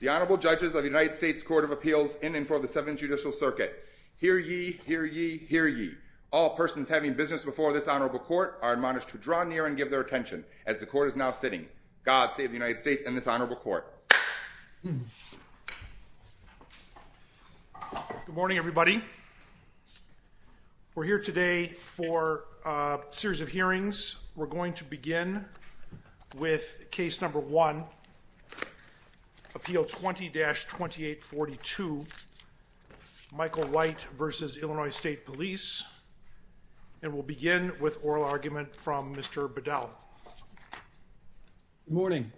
The Honorable Judges of the United States Court of Appeals in and for the Seventh Judicial Circuit. Hear ye, hear ye, hear ye. All persons having business before this honorable court are admonished to draw near and give their attention. As the court is now sitting. God save the United States and this honorable court. Good morning everybody. We're here today for a series of hearings. We're going to begin with case number one. Appeal 20-2842 Michael White v. Illinois State Police and we'll begin with oral argument from Mr. Bedell. Morning.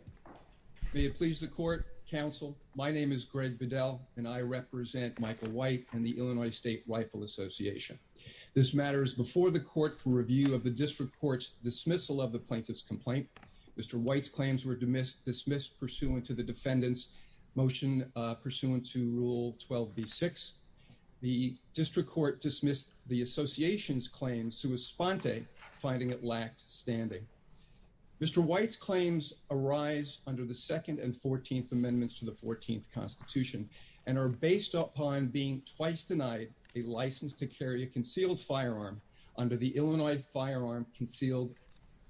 May it please the court, counsel. My name is Greg Bedell and I represent Michael White and the Illinois State Rifle Association. This matter is before the court for review of the district court's dismissal of the plaintiff's complaint. Mr. White's claims were dismissed pursuant to the defendant's motion pursuant to Rule 12b-6. The district court dismissed the association's claim sua sponte finding it lacked standing. Mr. White's claims arise under the second and fourteenth amendments to the fourteenth constitution and are based upon being twice denied a license to carry a concealed firearm under the Illinois Firearm Concealed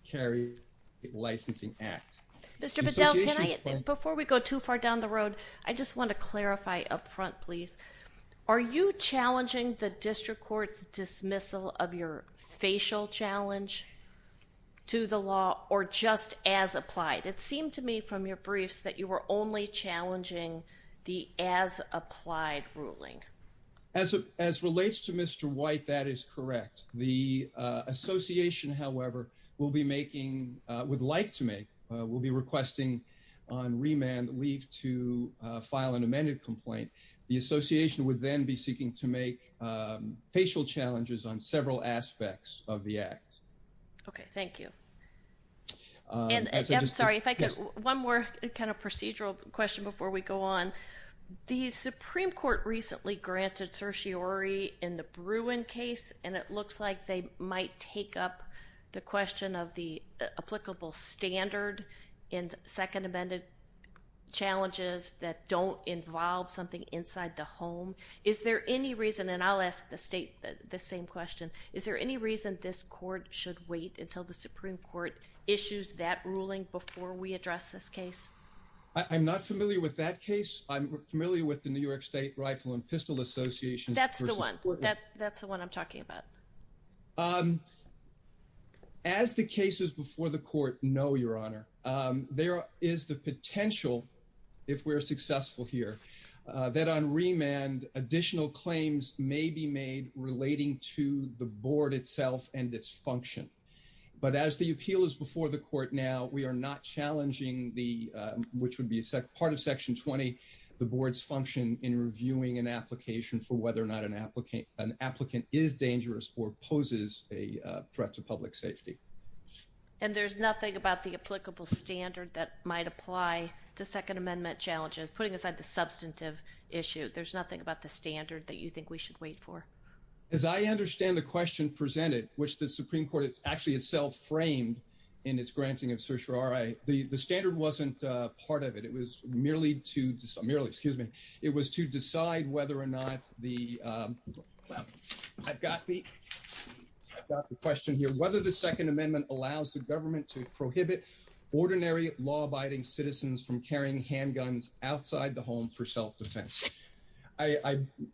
Carry Licensing Act. Mr. Bedell, before we go too far down the road, I just want to clarify up front please. Are you challenging the district court's dismissal of your facial challenge to the law or just as applied? It seemed to me from your briefs that you were only challenging the as applied ruling. As relates to Mr. White, that is correct. The association, however, will be making, would like to make, will be requesting on remand leave to file an amended complaint. The association would then be seeking to make facial challenges on several aspects of the act. Okay, thank you. I'm sorry, if I could, one more kind of procedural question before we go on. The Supreme Court recently granted certiorari in the Bruin case and it looks like they might take up the question of the applicable standard in second amended challenges that don't involve something inside the home. Is there any reason, and I'll ask the state the same question, is there any reason this Supreme Court issues that ruling before we address this case? I'm not familiar with that case. I'm familiar with the New York State Rifle and Pistol Association. That's the one, that's the one I'm talking about. As the cases before the court know, Your Honor, there is the potential, if we're successful here, that on remand additional claims may be made relating to the board itself and its function. But as the appeal is before the court now, we are not challenging the, which would be a part of section 20, the board's function in reviewing an application for whether or not an applicant is dangerous or poses a threat to public safety. And there's nothing about the applicable standard that might apply to second amendment challenges, putting aside the substantive issue. There's nothing about the standard that you think we should wait for. As I understand the question presented, which the Supreme Court actually itself framed in its granting of certiorari, the standard wasn't part of it. It was merely to, excuse me, it was to decide whether or not the, well, I've got the question here, whether the second amendment allows the government to prohibit ordinary law-abiding citizens from carrying handguns outside the home for self-defense. I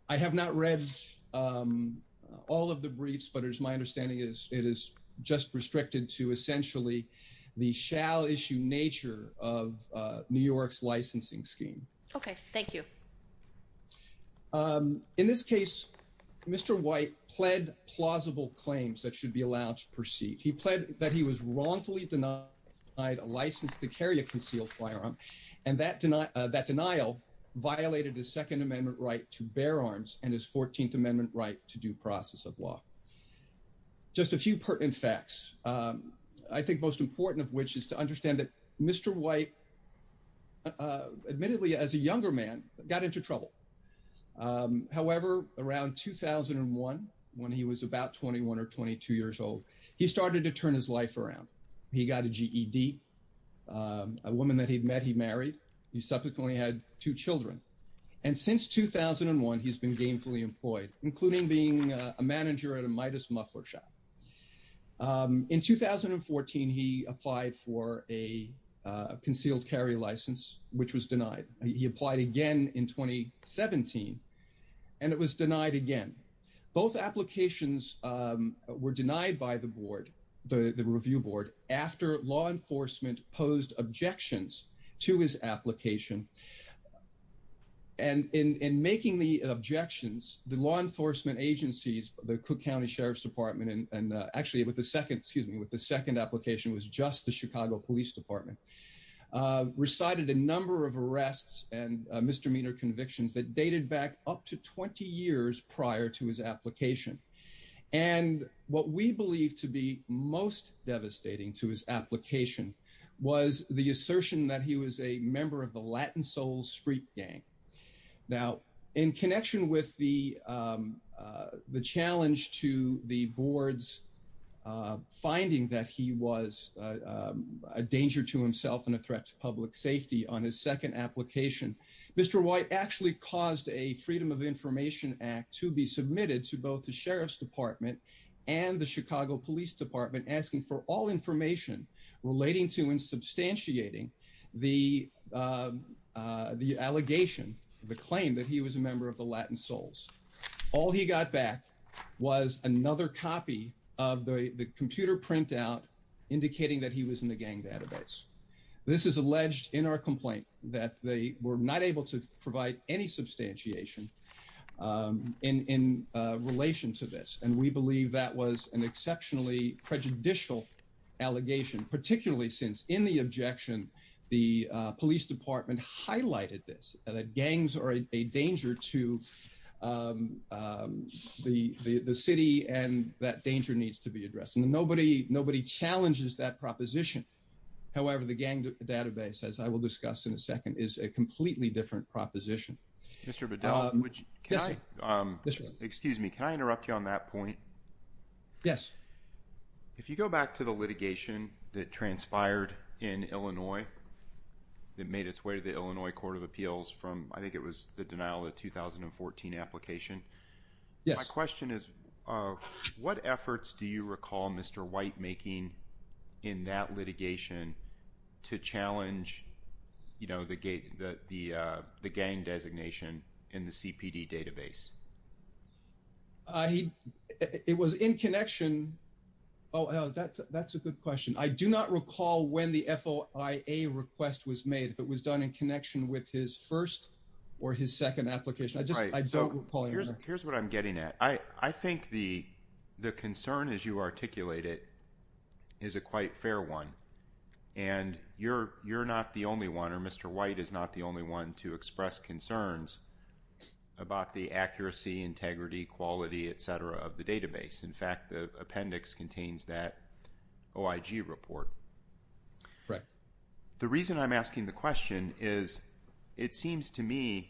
have not read all of the briefs, but as my understanding is, it is just restricted to essentially the shall issue nature of New York's licensing scheme. Okay. Thank you. In this case, Mr. White pled plausible claims that should be allowed to proceed. He pled that he was wrongfully denied a license to carry a concealed firearm. And that denial violated his second amendment right to bear arms and his 14th amendment right to due process of law. Just a few pertinent facts, I think most important of which is to understand that Mr. White admittedly as a younger man got into trouble. However, around 2001, when he was about 21 or 22 years old, he started to turn his life around. He got a GED, a woman that he'd met, he married, he subsequently had two children. And since 2001, he's been gainfully employed, including being a manager at a Midas muffler shop. In 2014, he applied for a concealed carry license, which was denied. He applied again in 2017, and it was denied again. Both applications were denied by the board, the review board, after law enforcement posed objections to his application. And in making the objections, the law enforcement agencies, the Cook County Sheriff's Department, and actually with the second, excuse me, with the second application was just the Chicago Police Department, recited a number of arrests and misdemeanor convictions that dated back up to 20 years prior to his application. And what we believe to be most devastating to his application was the assertion that he was a member of the Latin soul street gang. Now, in connection with the challenge to the board's finding that he was a danger to himself and a threat to public safety on his second application, Mr. White actually caused a Freedom of Information Act to be submitted to both the Sheriff's Department and the Chicago Police Department, asking for all information relating to and substantiating the allegation, the claim that he was a member of the Latin souls. All he got back was another copy of the computer printout indicating that he was in the gang's This is alleged in our complaint that they were not able to provide any substantiation in relation to this. And we believe that was an exceptionally prejudicial allegation, particularly since in the objection, the police department highlighted this, that gangs are a danger to the city and that danger needs to be addressed. And nobody, nobody challenges that proposition. However, the gang database, as I will discuss in a second, is a completely different proposition. Mr. Bedell, which, um, excuse me, can I interrupt you on that point? Yes. If you go back to the litigation that transpired in Illinois, that made its way to the Illinois Court of Appeals from, I think it was the denial of 2014 application. Yes. My question is, uh, what efforts do you recall Mr. White making in that litigation to challenge, you know, the gate, the, uh, the gang designation in the CPD database? Uh, he, it was in connection. Oh, that's, that's a good question. I do not recall when the FOIA request was made, but it was done in connection with his first or his second application. I just, I don't recall. Right. So here's, here's what I'm getting at. I, I think the, the concern as you articulate it is a quite fair one. And you're, you're not the only one, or Mr. White is not the only one to express concerns about the accuracy, integrity, quality, et cetera, of the database. In fact, the appendix contains that OIG report. Right. The reason I'm asking the question is, it seems to me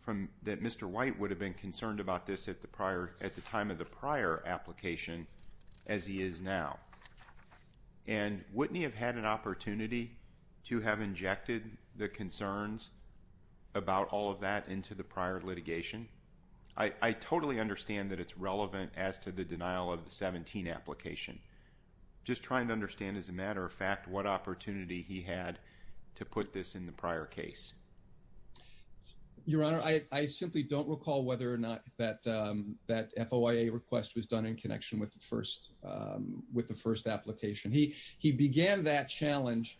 from, that Mr. White would have been concerned about this at the prior, at the time of the prior application as he is now. And wouldn't he have had an opportunity to have injected the concerns about all of that into the prior litigation? I, I totally understand that it's relevant as to the denial of the 17 application. Just trying to understand as a matter of fact, what opportunity he had to put this in the prior case. Your Honor, I, I simply don't recall whether or not that, that FOIA request was done in connection with the first, with the first application. He began that challenge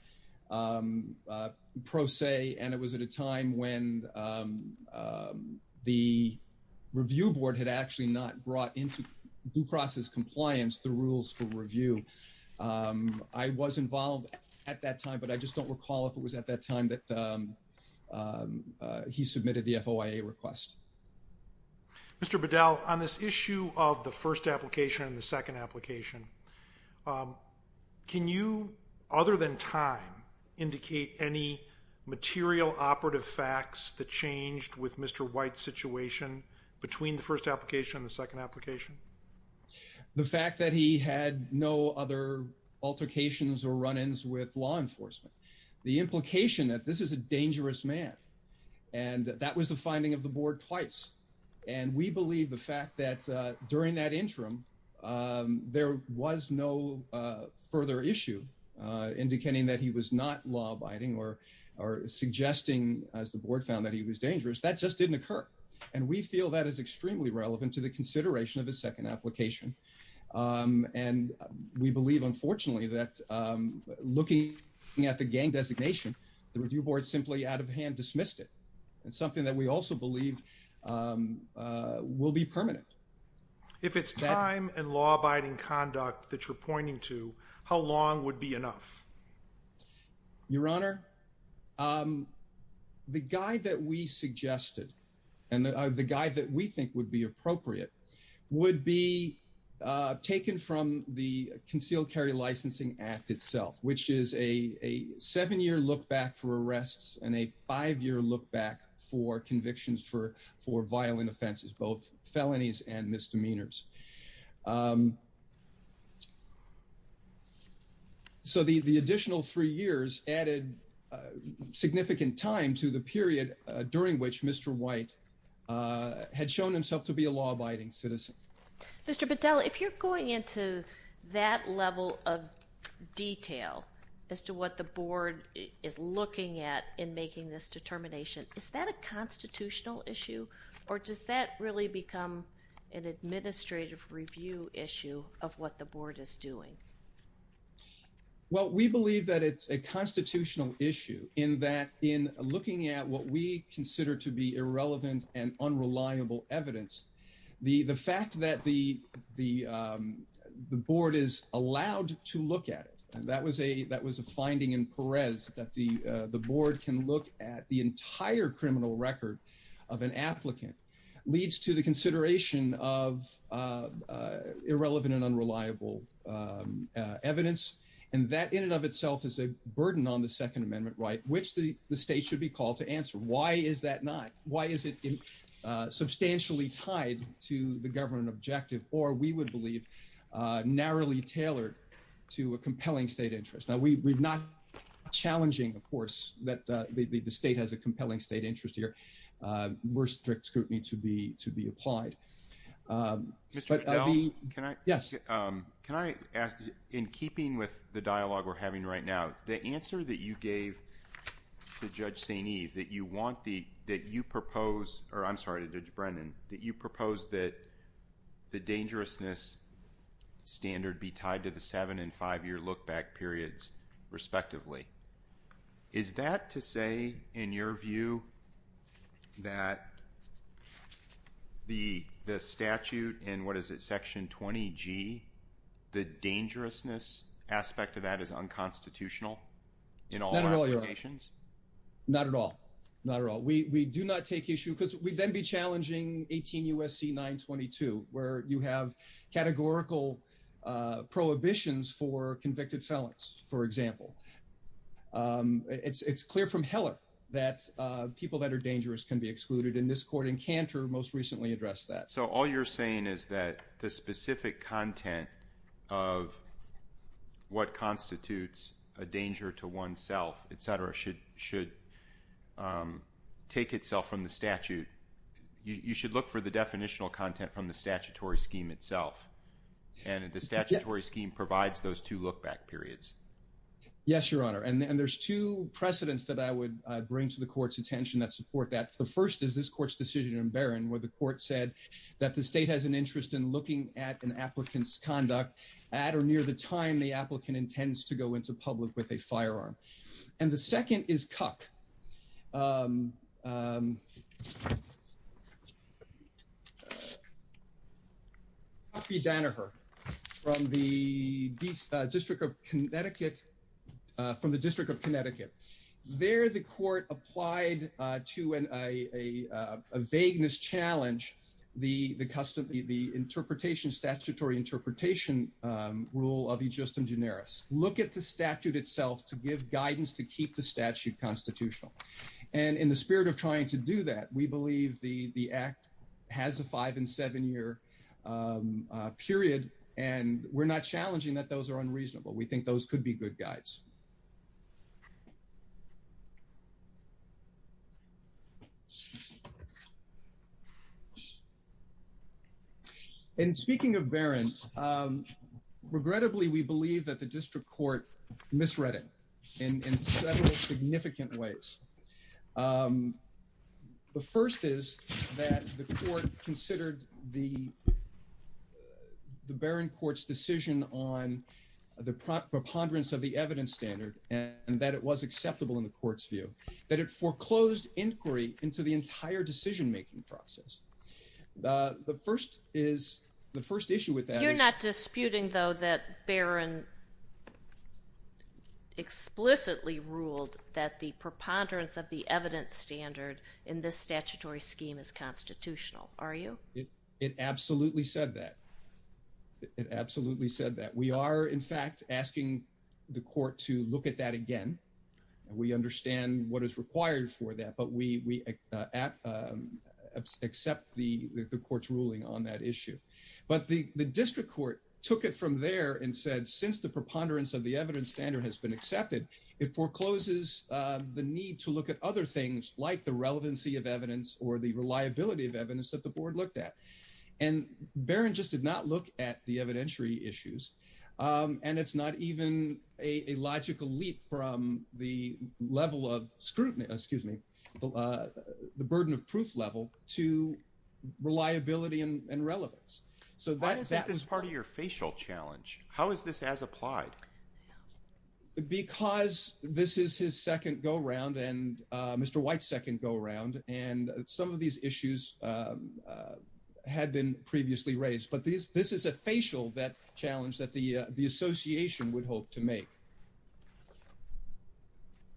pro se, and it was at a time when the review board had actually not brought into due process compliance the rules for review. I was involved at that time, but I just don't recall if it was at that time that he submitted the FOIA request. Mr. Bedell, on this issue of the first application and the second application, can you, other than time, indicate any material operative facts that changed with Mr. White's situation between the first application and the second application? The fact that he had no other altercations or run-ins with law enforcement. The implication that this is a dangerous man, and that was the finding of the board twice. And we believe the fact that during that interim, there was no further issue indicating that he was not law-abiding or, or suggesting as the board found that he was dangerous. That just didn't occur. And we feel that is extremely relevant to the consideration of the second application. And we believe, unfortunately, that looking at the gang designation, the review board simply out of hand dismissed it. It's something that we also believe will be permanent. If it's time and law-abiding conduct that you're pointing to, how long would be enough? Your Honor, the guide that we suggested and the guide that we think would be appropriate would be taken from the Concealed Carry Licensing Act itself, which is a seven-year look back for arrests and a five-year look back for convictions for, for violent offenses, both felonies and misdemeanors. So the, the additional three years added significant time to the period during which Mr. White had shown himself to be a law-abiding citizen. Mr. Bedell, if you're going into that level of detail as to what the board is looking at in making this determination, is that a constitutional issue or does that really become an administrative review issue of what the board is doing? Well, we believe that it's a constitutional issue in that in looking at what we consider to be irrelevant and unreliable evidence, the, the fact that the, the, the board is allowed to look at it, and that was a, that was a finding in Perez that the, the board can look at the entire criminal record of an applicant, leads to the consideration of irrelevant and unreliable evidence, and that in and of itself is a burden on the Second Amendment right, which the, the state should be called to answer. Why is that not? Why is it substantially tied to the government objective or we would believe narrowly tailored to a compelling state interest? Now, we, we've not challenging, of course, that the, the, the state has a compelling state interest here. Uh, we're strict scrutiny to be, to be applied. Um, but I mean... Mr. Bedell, can I... Yes. Um, can I ask, in keeping with the dialogue we're having right now, the answer that you gave to Judge St. Eve, that you want the, that you propose, or I'm sorry to Judge Brennan, that you propose that the dangerousness standard be tied to the seven and five-year look-back periods respectively. Is that to say, in your view, that the, the statute and what is it, Section 20G, the dangerousness aspect of that is unconstitutional in all applications? Not at all. Not at all. We, we do not take issue, because we'd then be challenging 18 U.S.C. 922, where you have categorical, uh, prohibitions for convicted felons, for example. Um, it's, it's clear from Heller that, uh, people that are dangerous can be excluded, and this court in Cantor most recently addressed that. So all you're saying is that the specific content of what constitutes a danger to oneself, et cetera, should, should, um, take itself from the statute. You, you should look for the definitional content from the statutory scheme itself. And the statutory scheme provides those two look-back periods. Yes, Your Honor. And, and there's two precedents that I would, uh, bring to the court's attention that support that. The first is this court's decision in Barron, where the court said that the state has an interest in looking at an applicant's conduct at or near the time the applicant intends to go into public with a firearm. And the second is Cuck. Um, um, Cuck v. Danaher from the District of Connecticut, uh, from the District of Connecticut. There the court applied, uh, to an, a, a, a vagueness challenge, the, the custom, the interpretation, statutory interpretation, um, rule of e justem generis. Look at the statute itself to give guidance, to keep the statute constitutional. And in the spirit of trying to do that, we believe the, the act has a five and seven year, um, uh, period, and we're not challenging that those are unreasonable. We think those could be good guides. Um, and speaking of Barron, um, regrettably, we believe that the district court misread it in, in several significant ways. Um, the first is that the court considered the, the Barron court's decision on the preponderance of the evidence standard, and that it was acceptable in the court's view, that it foreclosed inquiry into the entire decision-making process. Uh, the first is, the first issue with that is- You're not disputing though that Barron explicitly ruled that the preponderance of the evidence standard in this statutory scheme is constitutional, are you? It absolutely said that. It absolutely said that. We are, in fact, asking the court to look at that again. We understand what is required for that, but we, we, uh, at, um, accept the, the court's ruling on that issue. But the, the district court took it from there and said, since the preponderance of the evidence standard has been accepted, it forecloses, uh, the need to look at other things like the relevancy of evidence or the reliability of evidence that the board looked at. And Barron just did not look at the evidentiary issues, um, and it's not even a, a logical leap from the level of scrutiny, excuse me, uh, the burden of proof level to reliability and relevance. So that- Why is that part of your facial challenge? How is this as applied? Because this is his second go-round and, uh, Mr. White's second go-round, and some of these had been previously raised. But this, this is a facial that challenge that the, uh, the association would hope to make.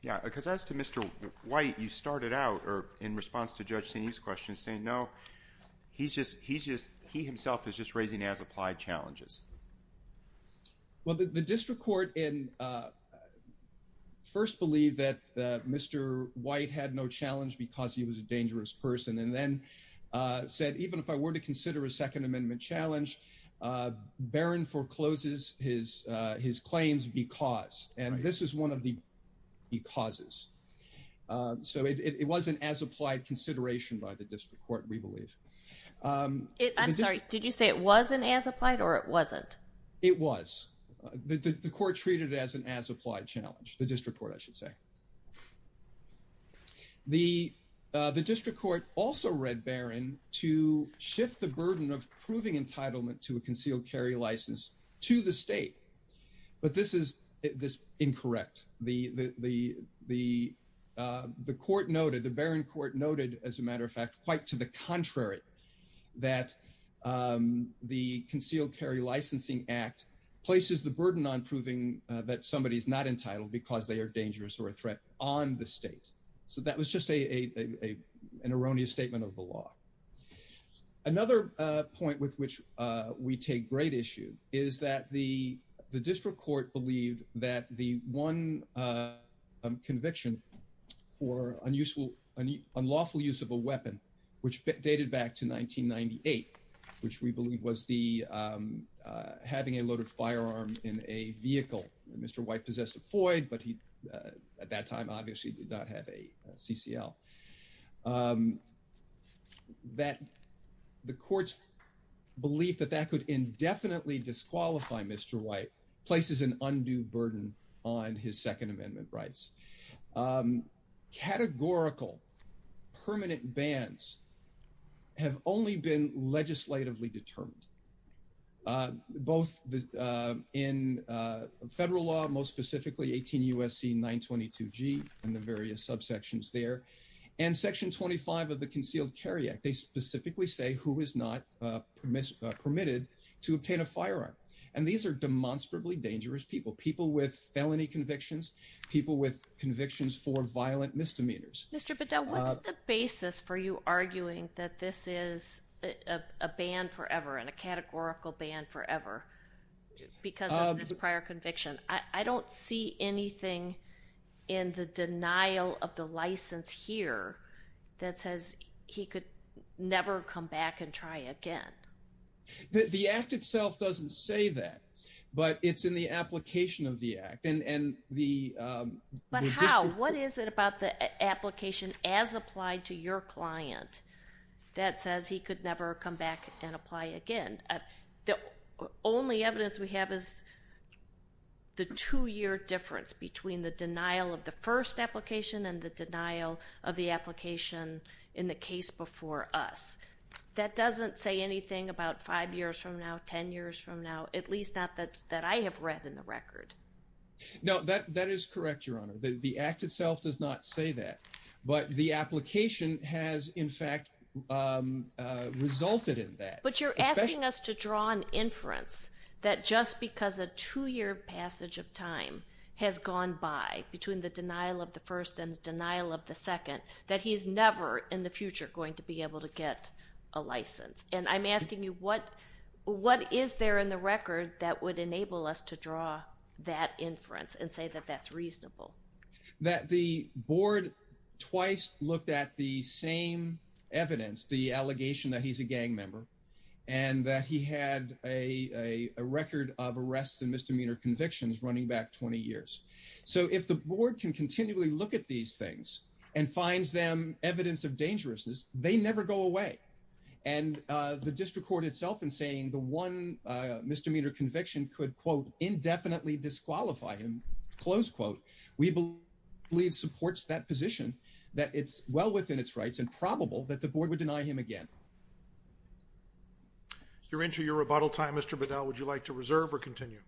Yeah. Because as to Mr. White, you started out, or in response to Judge Seney's question, saying, no, he's just, he's just, he himself is just raising as applied challenges. Well, the, the district court in, uh, first believed that, uh, Mr. White had no challenge because he was a dangerous person, and then, uh, said, even if I were to consider a second amendment challenge, uh, Barron forecloses his, uh, his claims because, and this is one of the becauses. Um, so it, it, it wasn't as applied consideration by the district court, we believe. Um, I'm sorry, did you say it wasn't as applied or it wasn't? It was. The, the, the court treated it as an as applied challenge, the district court, I should say. Okay. The, uh, the district court also read Barron to shift the burden of proving entitlement to a concealed carry license to the state. But this is, this incorrect, the, the, the, uh, the court noted, the Barron court noted as a matter of fact, quite to the contrary, that, um, the concealed carry licensing act places the burden on proving, uh, that somebody is not entitled because they are dangerous or a threat on the state. So that was just a, a, a, an erroneous statement of the law. Another point with which, uh, we take great issue is that the, the district court believed that the one, uh, um, conviction for unuseful, unlawful use of a weapon, which dated back to 1998, which we believe was the, um, uh, having a loaded firearm in a vehicle and Mr. White possessed a Floyd, but he, uh, at that time, obviously did not have a CCL, um, that the court's belief that that could indefinitely disqualify Mr. White places an undue burden on his second amendment rights, um, categorical permanent bans have only been legislatively determined, uh, both, uh, in, uh, federal law, most specifically 18 USC, nine 22 G and the various subsections there and section 25 of the concealed carry act, they specifically say who is not, uh, uh, permitted to obtain a firearm. And these are demonstrably dangerous people, people with felony convictions, people with convictions for violent misdemeanors. Mr. Bedell, what's the basis for you arguing that this is a ban forever and a categorical ban forever because of this prior conviction? I don't see anything in the denial of the license here that says he could never come back and try again. The act itself doesn't say that, but it's in the application of the act and, and the, um, what is it about the application as applied to your client that says he could never come back and apply again? The only evidence we have is the two year difference between the denial of the first application and the denial of the application in the case before us, that doesn't say anything about five years from now, 10 years from now, at least not that, that I have read in the record. No, that, that is correct, Your Honor. The act itself does not say that, but the application has in fact, um, uh, resulted in that. But you're asking us to draw an inference that just because a two year passage of time has gone by between the denial of the first and denial of the second, that he's never in the future going to be able to get a license. And I'm asking you what, what is there in the record that would enable us to draw that inference and say that that's reasonable? That the board twice looked at the same evidence, the allegation that he's a gang member and that he had a, a record of arrests and misdemeanor convictions running back 20 years. So if the board can continually look at these things and finds them evidence of dangerousness, they never go away. And uh, the district court itself in saying the one, uh, misdemeanor conviction could quote indefinitely disqualify him, close quote, we believe supports that position, that it's well within its rights and probable that the board would deny him again. You're into your rebuttal time, Mr. Bedell, would you like to reserve or continue?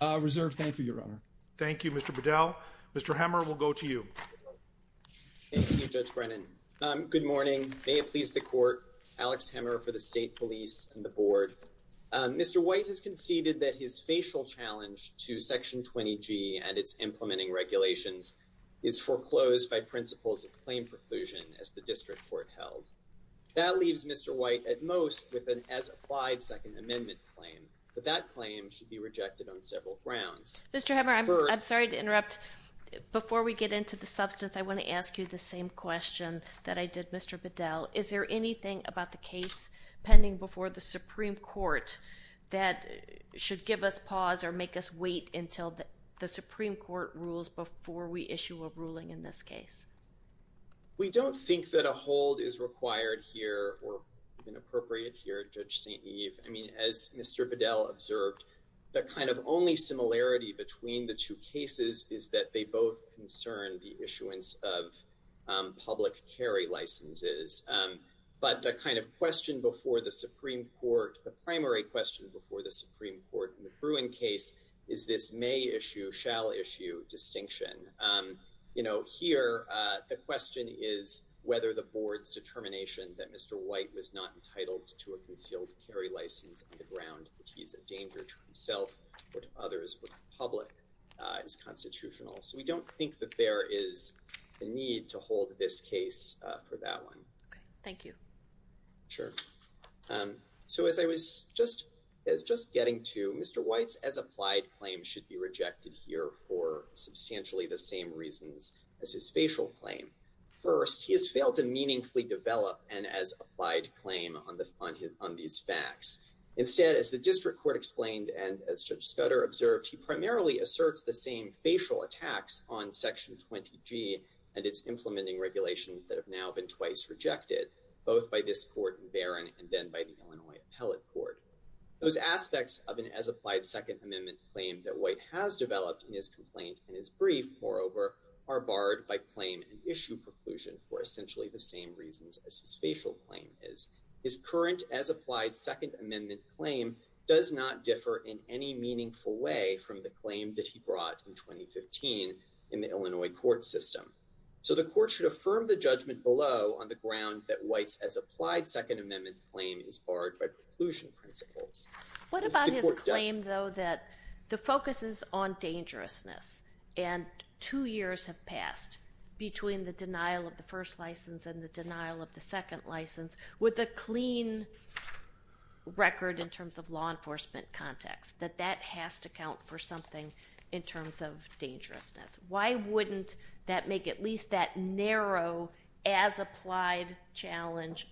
Uh, reserve. Thank you, Your Honor. Thank you, Mr. Bedell. Mr. Hammer, we'll go to you. Thank you, Judge Brennan. Um, good morning. May it please the court, Alex Hammer for the state police and the board. Um, Mr. White has conceded that his facial challenge to section 20G and its implementing regulations is foreclosed by principles of claim preclusion as the district court held. That leaves Mr. White at most with an as applied second amendment claim, but that claim should be rejected on several grounds. Mr. Hammer, I'm, I'm sorry to interrupt. Before we get into the substance, I want to ask you the same question that I did, Mr. Bedell. Is there anything about the case pending before the Supreme Court that should give us pause or make us wait until the Supreme Court rules before we issue a ruling in this case? We don't think that a hold is required here or inappropriate here, Judge St. Eve. I mean, as Mr. Bedell observed, the kind of only similarity between the two cases is that they both concern the issuance of public carry licenses. But the kind of question before the Supreme Court, the primary question before the Supreme Court in the Bruin case is this may issue, shall issue distinction. You know, here the question is whether the board's determination that Mr. White was not entitled to a concealed carry license on the ground that he's a danger to himself or to his constitutional. So we don't think that there is a need to hold this case for that one. Thank you. Sure. Um, so as I was just as just getting to Mr. White's as applied claim should be rejected here for substantially the same reasons as his facial claim. First, he has failed to meaningfully develop and as applied claim on the, on his, on these facts. Instead, as the district court explained and as Judge Scudder observed, he primarily asserts the same facial attacks on section 20 G and it's implementing regulations that have now been twice rejected both by this court in Baron and then by the Illinois appellate court. Those aspects of an as applied second amendment claim that White has developed in his complaint and his brief moreover are barred by claim and issue preclusion for essentially the same reasons as his facial claim is his current as applied second amendment claim does not differ in any meaningful way from the claim that he brought in 2015 in the Illinois court system. So the court should affirm the judgment below on the ground that White's as applied second amendment claim is barred by preclusion principles. What about his claim though, that the focus is on dangerousness and two years have passed between the denial of the first license and the denial of the second license with a clean record in terms of law enforcement context, that that has to count for something in terms of dangerousness. Why wouldn't that make at least that narrow as applied challenge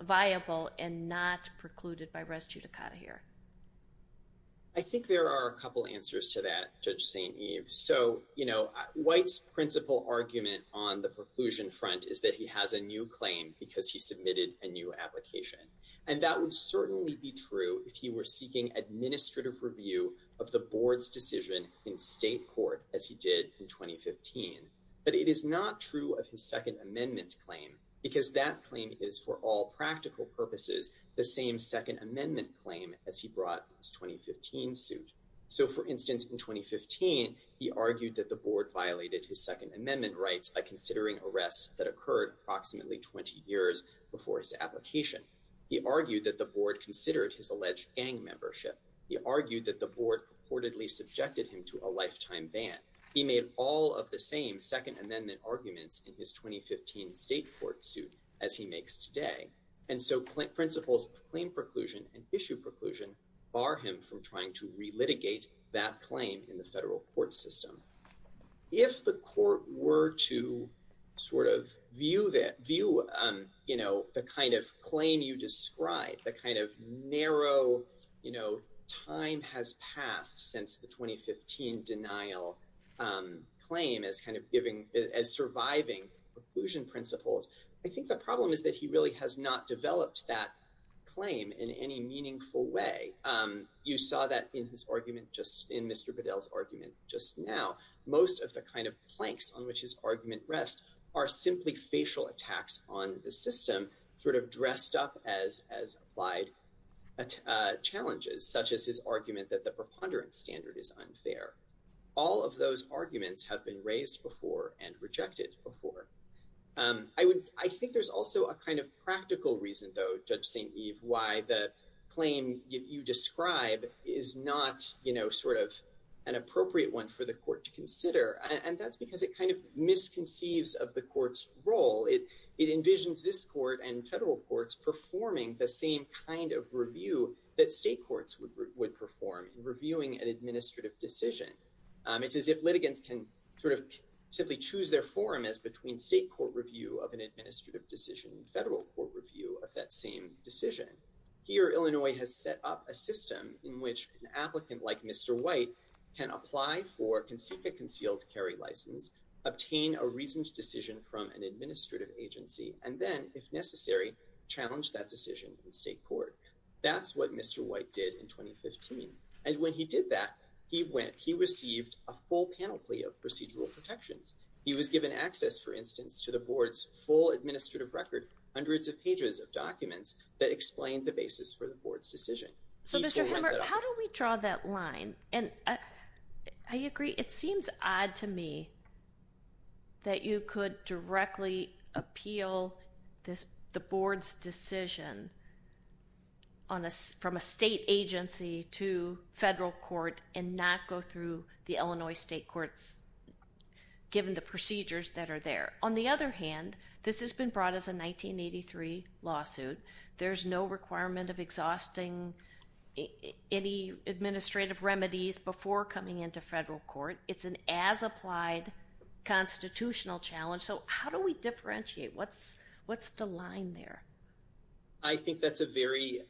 viable and not precluded by res judicata here? I think there are a couple answers to that, Judge St. Eve. So you know, White's principle argument on the preclusion front is that he has a new And that would certainly be true if you were seeking administrative review of the board's decision in state court as he did in 2015. But it is not true of his second amendment claim, because that claim is for all practical purposes, the same second amendment claim as he brought his 2015 suit. So for instance, in 2015, he argued that the board violated his second amendment rights by considering arrests that occurred approximately 20 years before his application. He argued that the board considered his alleged gang membership. He argued that the board reportedly subjected him to a lifetime ban. He made all of the same second amendment arguments in his 2015 state court suit as he makes today. And so principles claim preclusion and issue preclusion bar him from trying to relitigate that claim in the federal court system. If the court were to sort of view that view, you know, the kind of claim you described, the kind of narrow, you know, time has passed since the 2015 denial claim is kind of giving as surviving preclusion principles. I think the problem is that he really has not developed that claim in any meaningful way. And you saw that in his argument, just in Mr. Bedell's argument just now. Most of the kind of planks on which his argument rests are simply facial attacks on the system sort of dressed up as applied challenges, such as his argument that the preponderance standard is unfair. All of those arguments have been raised before and rejected before. I think there's also a kind of practical reason, though, Judge St. Eve, why the claim you describe is not, you know, sort of an appropriate one for the court to consider. And that's because it kind of misconceives of the court's role. It envisions this court and federal courts performing the same kind of review that state courts would perform in reviewing an administrative decision. It's as if litigants can sort of simply choose their forum as between state court review of an administrative decision and federal court review of that same decision. Here, Illinois has set up a system in which an applicant like Mr. White can apply for a concealed carry license, obtain a reasoned decision from an administrative agency, and then, if necessary, challenge that decision in state court. That's what Mr. White did in 2015. And when he did that, he received a full panel plea of procedural protections. He was given access, for instance, to the board's full administrative record, hundreds of pages of documents that explained the basis for the board's decision. So Mr. Hammer, how do we draw that line? And I agree, it seems odd to me that you could directly appeal the board's decision from a state agency to federal court and not go through the Illinois state courts, given the procedures that are there. On the other hand, this has been brought as a 1983 lawsuit. There's no requirement of exhausting any administrative remedies before coming into federal court. It's an as-applied constitutional challenge. So how do we differentiate? What's the line there? I think that's a very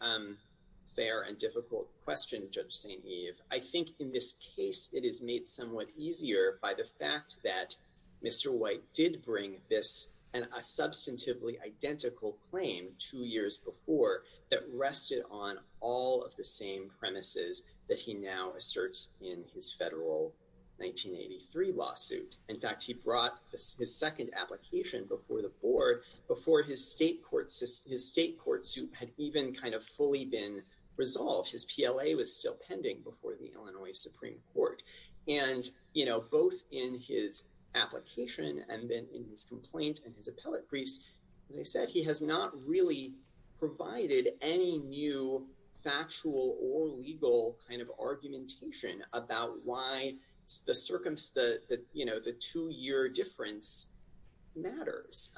fair and difficult question, Judge St. Eve. I think in this case, it is made somewhat easier by the fact that Mr. White did bring this and a substantively identical claim two years before that rested on all of the same premises that he now asserts in his federal 1983 lawsuit. In fact, he brought his second application before the board, before his state court suit had even kind of fully been resolved. His PLA was still pending before the Illinois Supreme Court. And both in his application and then in his complaint and his appellate briefs, as I said, he has not really provided any new factual or legal kind of argumentation about why the circumstance, the two-year difference matters.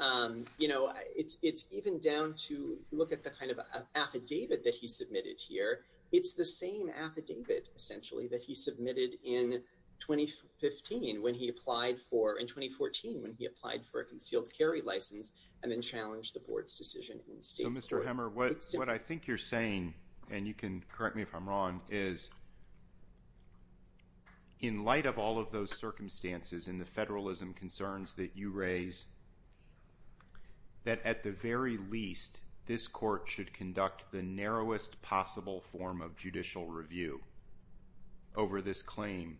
You know, it's even down to look at the kind of affidavit that he submitted here. It's the same affidavit, essentially, that he submitted in 2015 when he applied for, in 2014 when he applied for a concealed carry license and then challenged the board's decision in the state court. So, Mr. Hemmer, what I think you're saying, and you can correct me if I'm wrong, is in light of all of those circumstances and the federalism concerns that you raise, that at the very least, this court should conduct the narrowest possible form of judicial review over this claim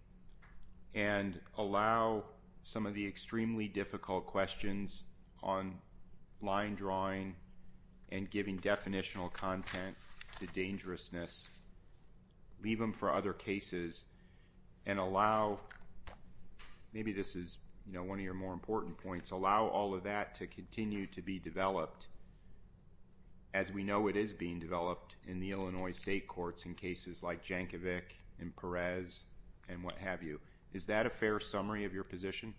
and allow some of the extremely difficult questions on line drawing and giving So, maybe this is, you know, one of your more important points, allow all of that to continue to be developed as we know it is being developed in the Illinois state courts in cases like Jankovic and Perez and what have you. Is that a fair summary of your position?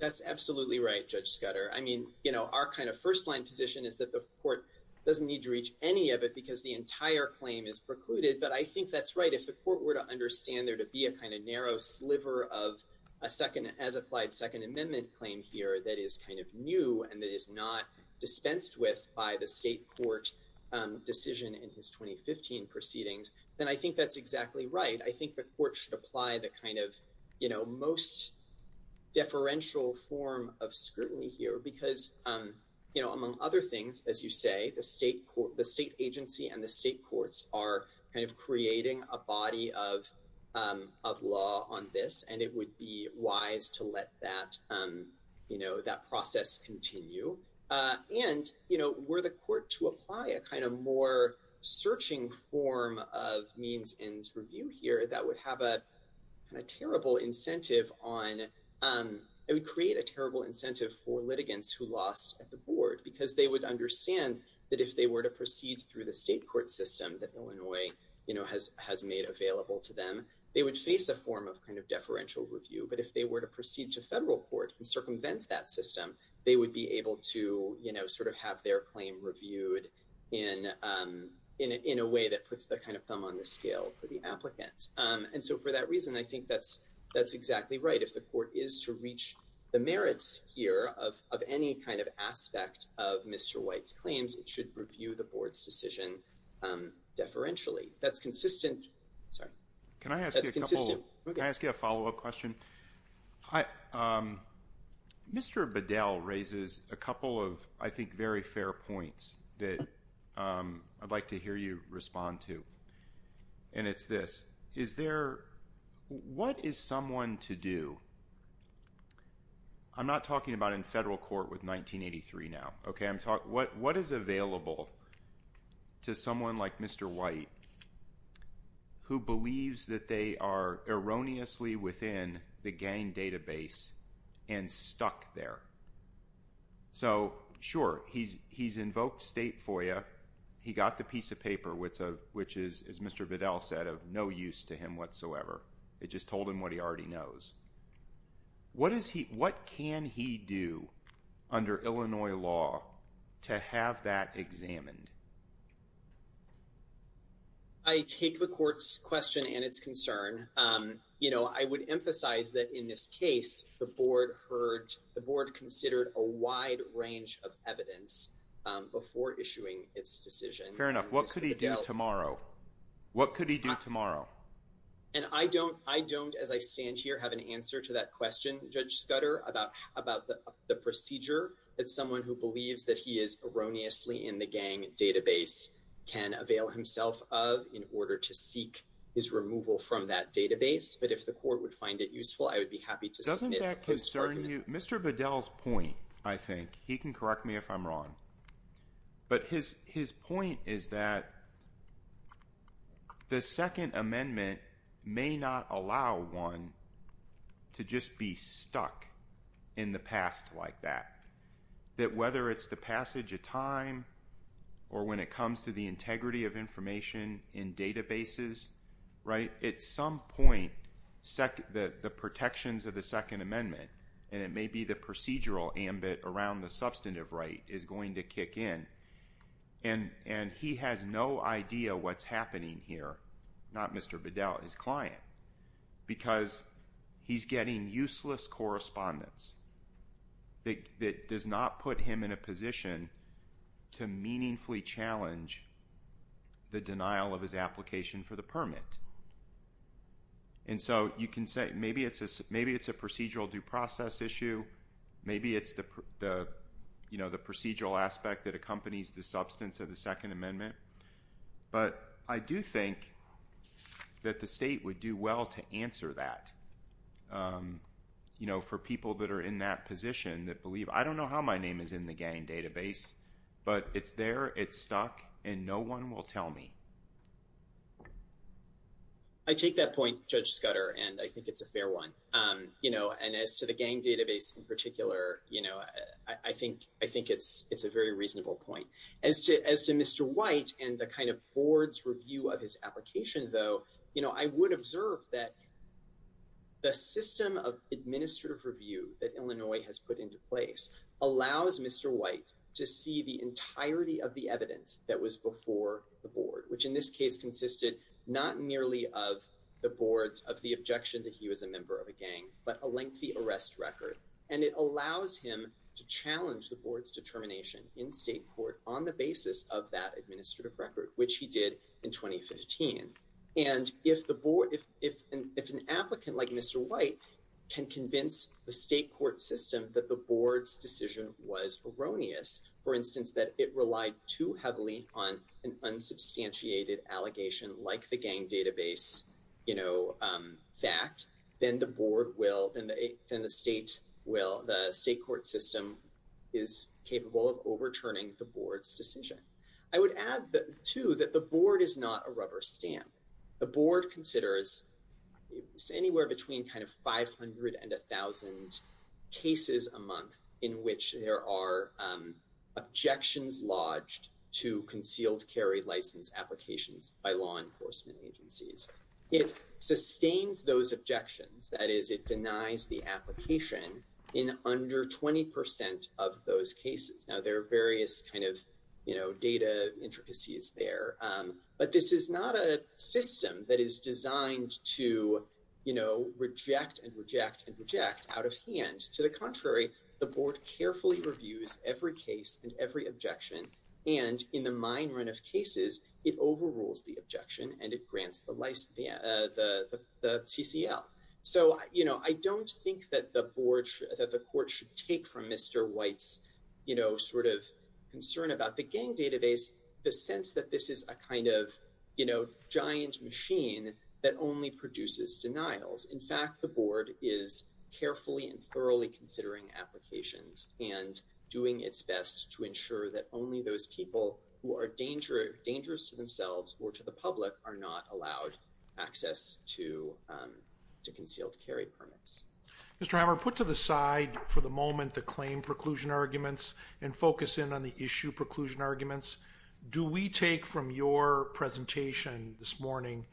That's absolutely right, Judge Scudder. I mean, you know, our kind of first-line position is that the court doesn't need to reach any of it because the entire claim is precluded, but I think that's right. If the court were to understand there to be a kind of narrow sliver of a second as applied Second Amendment claim here that is kind of new and that is not dispensed with by the state court decision in his 2015 proceedings, then I think that's exactly right. I think the court should apply the kind of, you know, most deferential form of scrutiny here because, you know, among other things, as you say, the state agency and the state body of law on this, and it would be wise to let that, you know, that process continue. And, you know, were the court to apply a kind of more searching form of means-ends review here that would have a terrible incentive on, it would create a terrible incentive for litigants who lost at the board because they would understand that if they were to proceed through the state court system that Illinois, you know, has made available to them, they would face a form of kind of deferential review, but if they were to proceed to federal court and circumvent that system, they would be able to, you know, sort of have their claim reviewed in a way that puts the kind of thumb on the scale for the applicants. And so for that reason, I think that's exactly right. If the court is to reach the merits here of any kind of aspect of Mr. White's claims, it should review the board's decision deferentially. That's consistent. Sorry. That's consistent. Can I ask you a follow-up question? Mr. Bedell raises a couple of, I think, very fair points that I'd like to hear you respond to, and it's this. Is there, what is someone to do? I'm not talking about in federal court with 1983 now, okay? What is available to someone like Mr. White who believes that they are erroneously within the gang database and stuck there? So sure, he's invoked state FOIA. He got the piece of paper, which is, as Mr. Bedell said, of no use to him whatsoever. It just told him what he already knows. What is he, what can he do under Illinois law to have that examined? I take the court's question and its concern. You know, I would emphasize that in this case, the board heard, the board considered a wide range of evidence before issuing its decision. Fair enough. What could he do tomorrow? What could he do tomorrow? And I don't, I don't, as I stand here, have an answer to that question, Judge Scudder, about the procedure that someone who believes that he is erroneously in the gang database can avail himself of in order to seek his removal from that database, but if the court would find it useful, I would be happy to submit a post-target. Doesn't that concern you? Mr. Bedell's point, I think, he can correct me if I'm wrong, but his point is that the Second Amendment may not allow one to just be stuck in the past like that. That whether it's the passage of time or when it comes to the integrity of information in databases, right, at some point, the protections of the Second Amendment, and it may be the procedural ambit around the substantive right, is going to kick in, and he has no idea what's not Mr. Bedell, his client, because he's getting useless correspondence that does not put him in a position to meaningfully challenge the denial of his application for the permit. And so, you can say, maybe it's a procedural due process issue, maybe it's the, you know, the procedural aspect that accompanies the substance of the Second Amendment, but I do think that the state would do well to answer that, you know, for people that are in that position that believe, I don't know how my name is in the gang database, but it's there, it's stuck, and no one will tell me. I take that point, Judge Scudder, and I think it's a fair one. You know, and as to the gang database in particular, you know, I think it's a very reasonable point. As to Mr. White and the kind of board's review of his application, though, you know, I would observe that the system of administrative review that Illinois has put into place allows Mr. White to see the entirety of the evidence that was before the board, which in this case consisted not merely of the board's, of the objection that he was a member of a gang, but a lengthy arrest record. And it allows him to challenge the board's determination in state court on the basis of that administrative record, which he did in 2015. And if the board, if an applicant like Mr. White can convince the state court system that the board's decision was erroneous, for instance, that it relied too heavily on an the state will, the state court system is capable of overturning the board's decision. I would add, too, that the board is not a rubber stamp. The board considers anywhere between kind of 500 and 1,000 cases a month in which there are objections lodged to concealed carry license applications by law enforcement agencies. It sustains those objections. That is, it denies the application in under 20% of those cases. Now, there are various kind of, you know, data intricacies there, but this is not a system that is designed to, you know, reject and reject and reject out of hand. To the contrary, the board carefully reviews every case and every objection. And in the mine run of cases, it overrules the objection and it grants the TCL. So, you know, I don't think that the board, that the court should take from Mr. White's, you know, sort of concern about the gang database, the sense that this is a kind of, you know, giant machine that only produces denials. In fact, the board is carefully and thoroughly considering applications and doing its best to ensure that only those people who are dangerous to themselves or to the public are not allowed access to concealed carry permits. Mr. Hammer, put to the side for the moment the claim preclusion arguments and focus in on the issue preclusion arguments. Do we take from your presentation this morning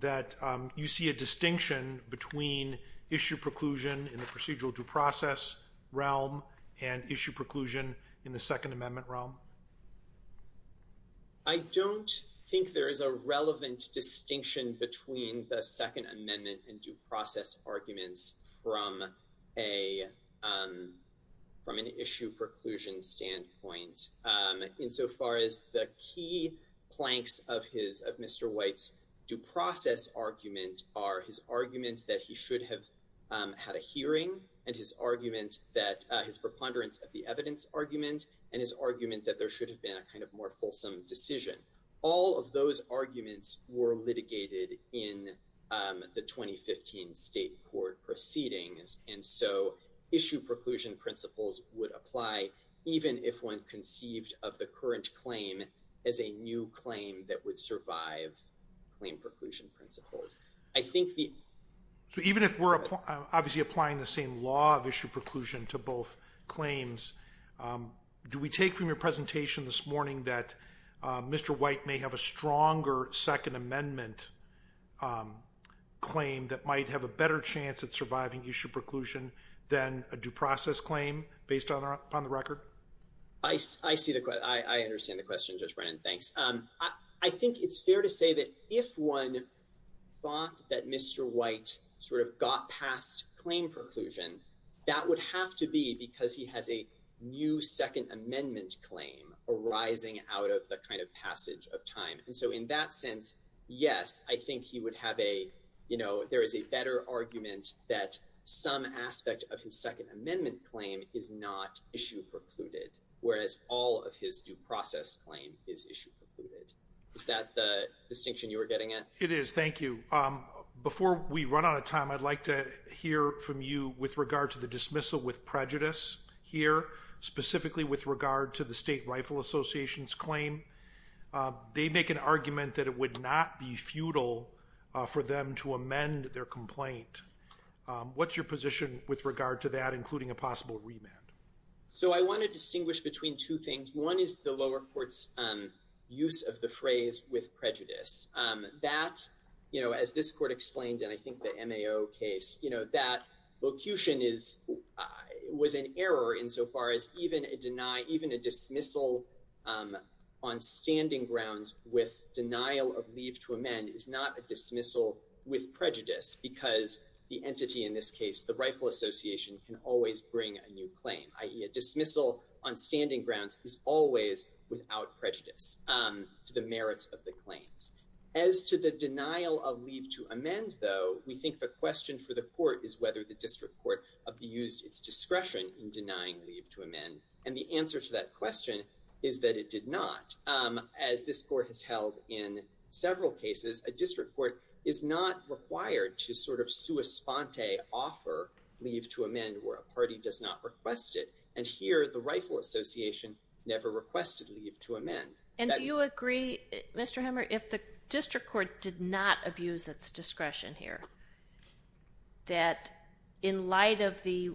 that you see a distinction between issue preclusion in the procedural due process realm and issue preclusion in the Second Amendment realm? I don't think there is a relevant distinction between the Second Amendment and due process arguments from a, from an issue preclusion standpoint. Insofar as the key planks of his, of Mr. White's due process argument are his argument that he should have had a hearing and his argument that, his preponderance of the evidence argument and his argument that there should have been a kind of more fulsome decision. All of those arguments were litigated in the 2015 state court proceedings and so issue preclusion principles would apply even if one conceived of the current claim as a new claim that would survive claim preclusion principles. I think the... So even if we're obviously applying the same law of issue preclusion to both claims, do we take from your presentation this morning that Mr. White may have a stronger Second Amendment claim that might have a better chance at surviving issue preclusion than a due process claim based on the record? I see the, I understand the question, Judge Brennan. Thanks. I think it's fair to say that if one thought that Mr. White sort of got past claim preclusion, that would have to be because he has a new Second Amendment claim arising out of the kind of passage of time. And so in that sense, yes, I think he would have a, you know, there is a better argument that some aspect of his Second Amendment claim is not issue precluded, whereas all of his due process claim is issue precluded. Is that the distinction you were getting at? It is. Thank you. Before we run out of time, I'd like to hear from you with regard to the dismissal with prejudice here, specifically with regard to the State Rifle Association's claim. They make an argument that it would not be futile for them to amend their complaint. What's your position with regard to that, including a possible remand? So I want to distinguish between two things. One is the lower court's use of the phrase with prejudice that, you know, as this court explained, and I think the MAO case, you know, that vocation is, was an error insofar as even a deny, even a dismissal on standing grounds with denial of leave to amend is not a dismissal with prejudice because the entity in this case, the Rifle Association can always bring a new claim, i.e. a dismissal on standing grounds is always without prejudice to the merits of the claims. As to the denial of leave to amend, though, we think the question for the court is whether the district court abused its discretion in denying leave to amend, and the answer to that question is that it did not. As this court has held in several cases, a district court is not required to sort of offer leave to amend where a party does not request it, and here the Rifle Association never requested leave to amend. And do you agree, Mr. Hammer, if the district court did not abuse its discretion here, that in light of the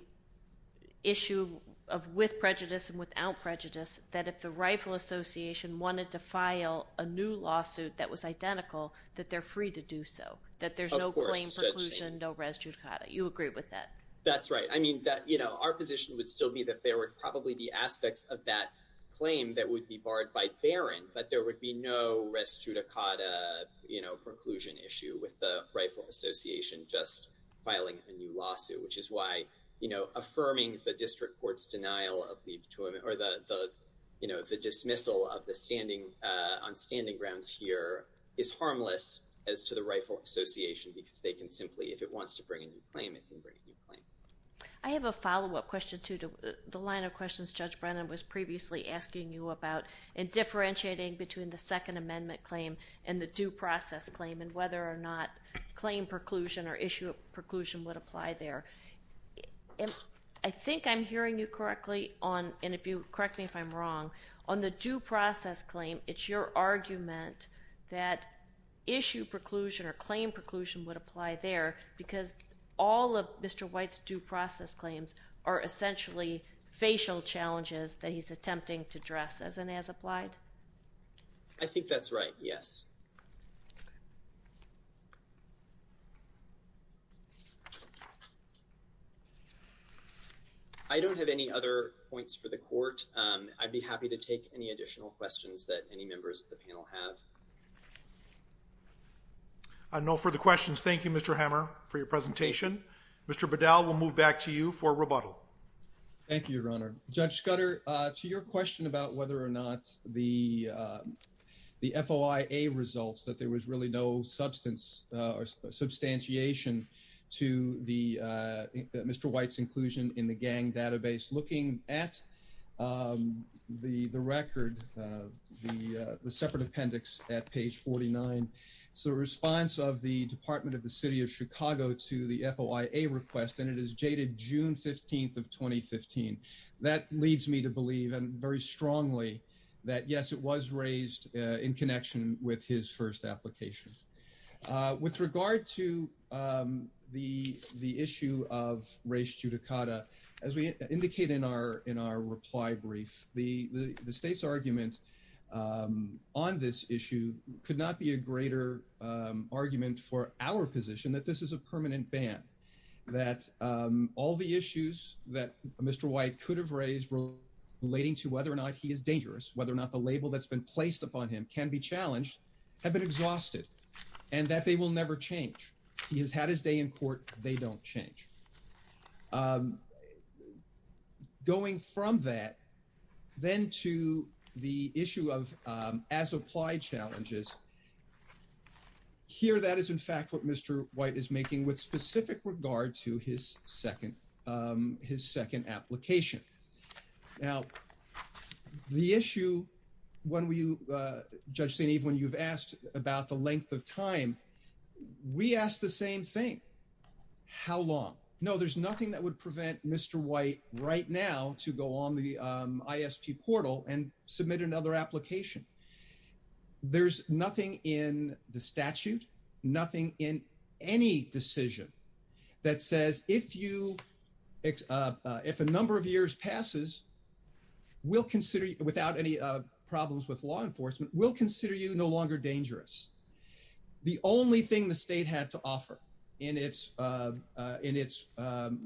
issue of with prejudice and without prejudice, that if the Rifle Association wanted to file a new lawsuit that was identical, that they're free to do so, that there's no claim preclusion, no res judicata? You agree with that? That's right. I mean, you know, our position would still be that there would probably be aspects of that claim that would be barred by Barron, but there would be no res judicata, you know, preclusion issue with the Rifle Association just filing a new lawsuit, which is why, you know, affirming the district court's denial of leave to amend or the, you know, the dismissal on standing grounds here is harmless as to the Rifle Association because they can simply, if it wants to bring a new claim, it can bring a new claim. I have a follow-up question to the line of questions Judge Brennan was previously asking you about in differentiating between the Second Amendment claim and the due process claim and whether or not claim preclusion or issue of preclusion would apply there. I think I'm hearing you correctly on, and if you correct me if I'm wrong, on the due process claim, it's your argument that issue preclusion or claim preclusion would apply there because all of Mr. White's due process claims are essentially facial challenges that he's attempting to address as and as applied? I think that's right, yes. I don't have any other points for the Court. I'd be happy to take any additional questions that any members of the panel have. No further questions. Thank you, Mr. Hammer, for your presentation. Mr. Bedell, we'll move back to you for rebuttal. Thank you, Your Honor. Judge Scudder, to your question about whether or not the FOIA results that there was really substance or substantiation to Mr. White's inclusion in the gang database, looking at the record, the separate appendix at page 49, it's a response of the Department of the City of Chicago to the FOIA request, and it is dated June 15th of 2015. That leads me to believe very strongly that, yes, it was raised in connection with his application. With regard to the issue of race judicata, as we indicated in our reply brief, the State's argument on this issue could not be a greater argument for our position that this is a permanent ban, that all the issues that Mr. White could have raised relating to whether or not he is challenged have been exhausted and that they will never change. He has had his day in court. They don't change. Going from that then to the issue of as-applied challenges, here that is, in fact, what Mr. White is making with specific regard to his second application. Now, the issue, Judge St. Eve, when you've asked about the length of time, we asked the same thing. How long? No, there's nothing that would prevent Mr. White right now to go on the ISP portal and submit another application. There's nothing in the statute, nothing in any decision that says if a number of years passes, we'll consider – without any problems with law enforcement, we'll consider you no longer dangerous. The only thing the State had to offer in its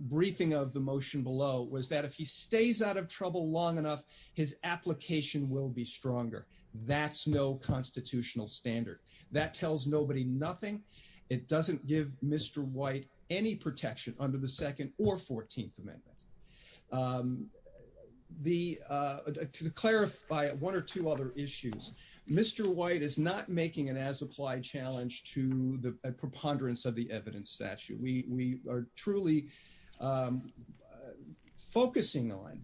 briefing of the motion below was that if he stays out of trouble long enough, his application will be stronger. That's no constitutional standard. That tells nobody nothing. It doesn't give Mr. White any protection under the Second or Fourteenth Amendment. The – to clarify one or two other issues, Mr. White is not making an as-applied challenge to the preponderance of the evidence statute. We are truly focusing on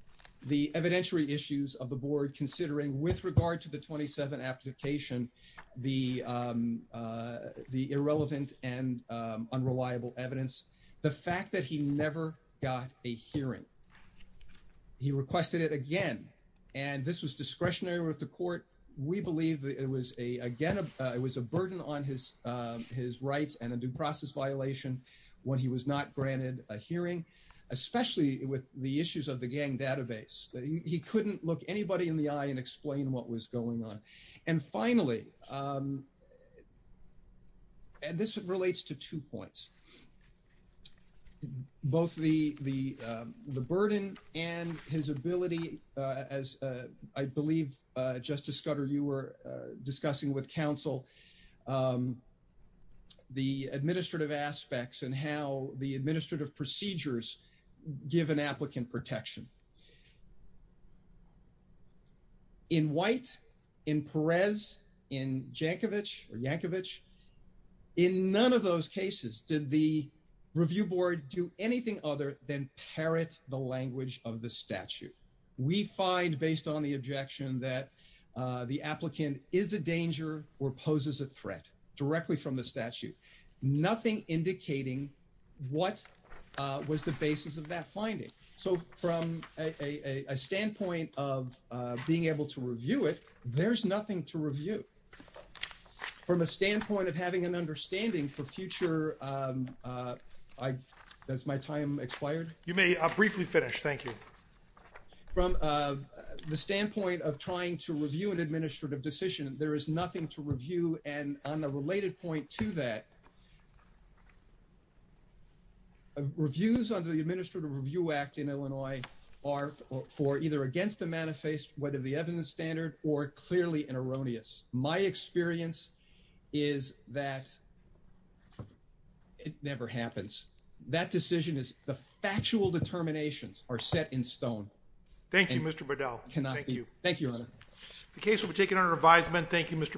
the evidentiary issues of the Board considering, with regard to the 27th application, the irrelevant and unreliable evidence, the fact that he never got a hearing. He requested it again, and this was discretionary with the court. We believe it was a – again, it was a burden on his rights and a due process violation when he was not granted a hearing, especially with the issues of the gang database. He couldn't look anybody in the eye and explain what was going on. And finally – and this relates to two points – both the burden and his ability, as I believe, Justice Scudder, you were discussing with counsel, the administrative aspects and how the administrative procedures give an applicant protection. In White, in Perez, in Jankovic or Jankovic, in none of those cases did the review board do anything other than parrot the language of the statute. We find, based on the objection, that the applicant is a danger or poses a threat directly from the statute, nothing indicating what was the basis of that finding. So from a standpoint of being able to review it, there's nothing to review. From a standpoint of having an understanding for future – has my time expired? MR PALLADINO You may briefly finish. Thank you. MR ABRAMS From the standpoint of trying to review an administrative decision, there is nothing to review. And on the related point to that, reviews under the Administrative Review Act in Illinois are for either against the manifest, whether the evidence standard, or clearly erroneous. My experience is that it never happens. That decision is – the factual determinations are set in stone. MR PALLADINO Thank you, Mr. Burdell. MR ABRAMS Thank you, Your Honor. MR PALLADINO The case will be taken under revisement. Thank you, Mr. Burdell.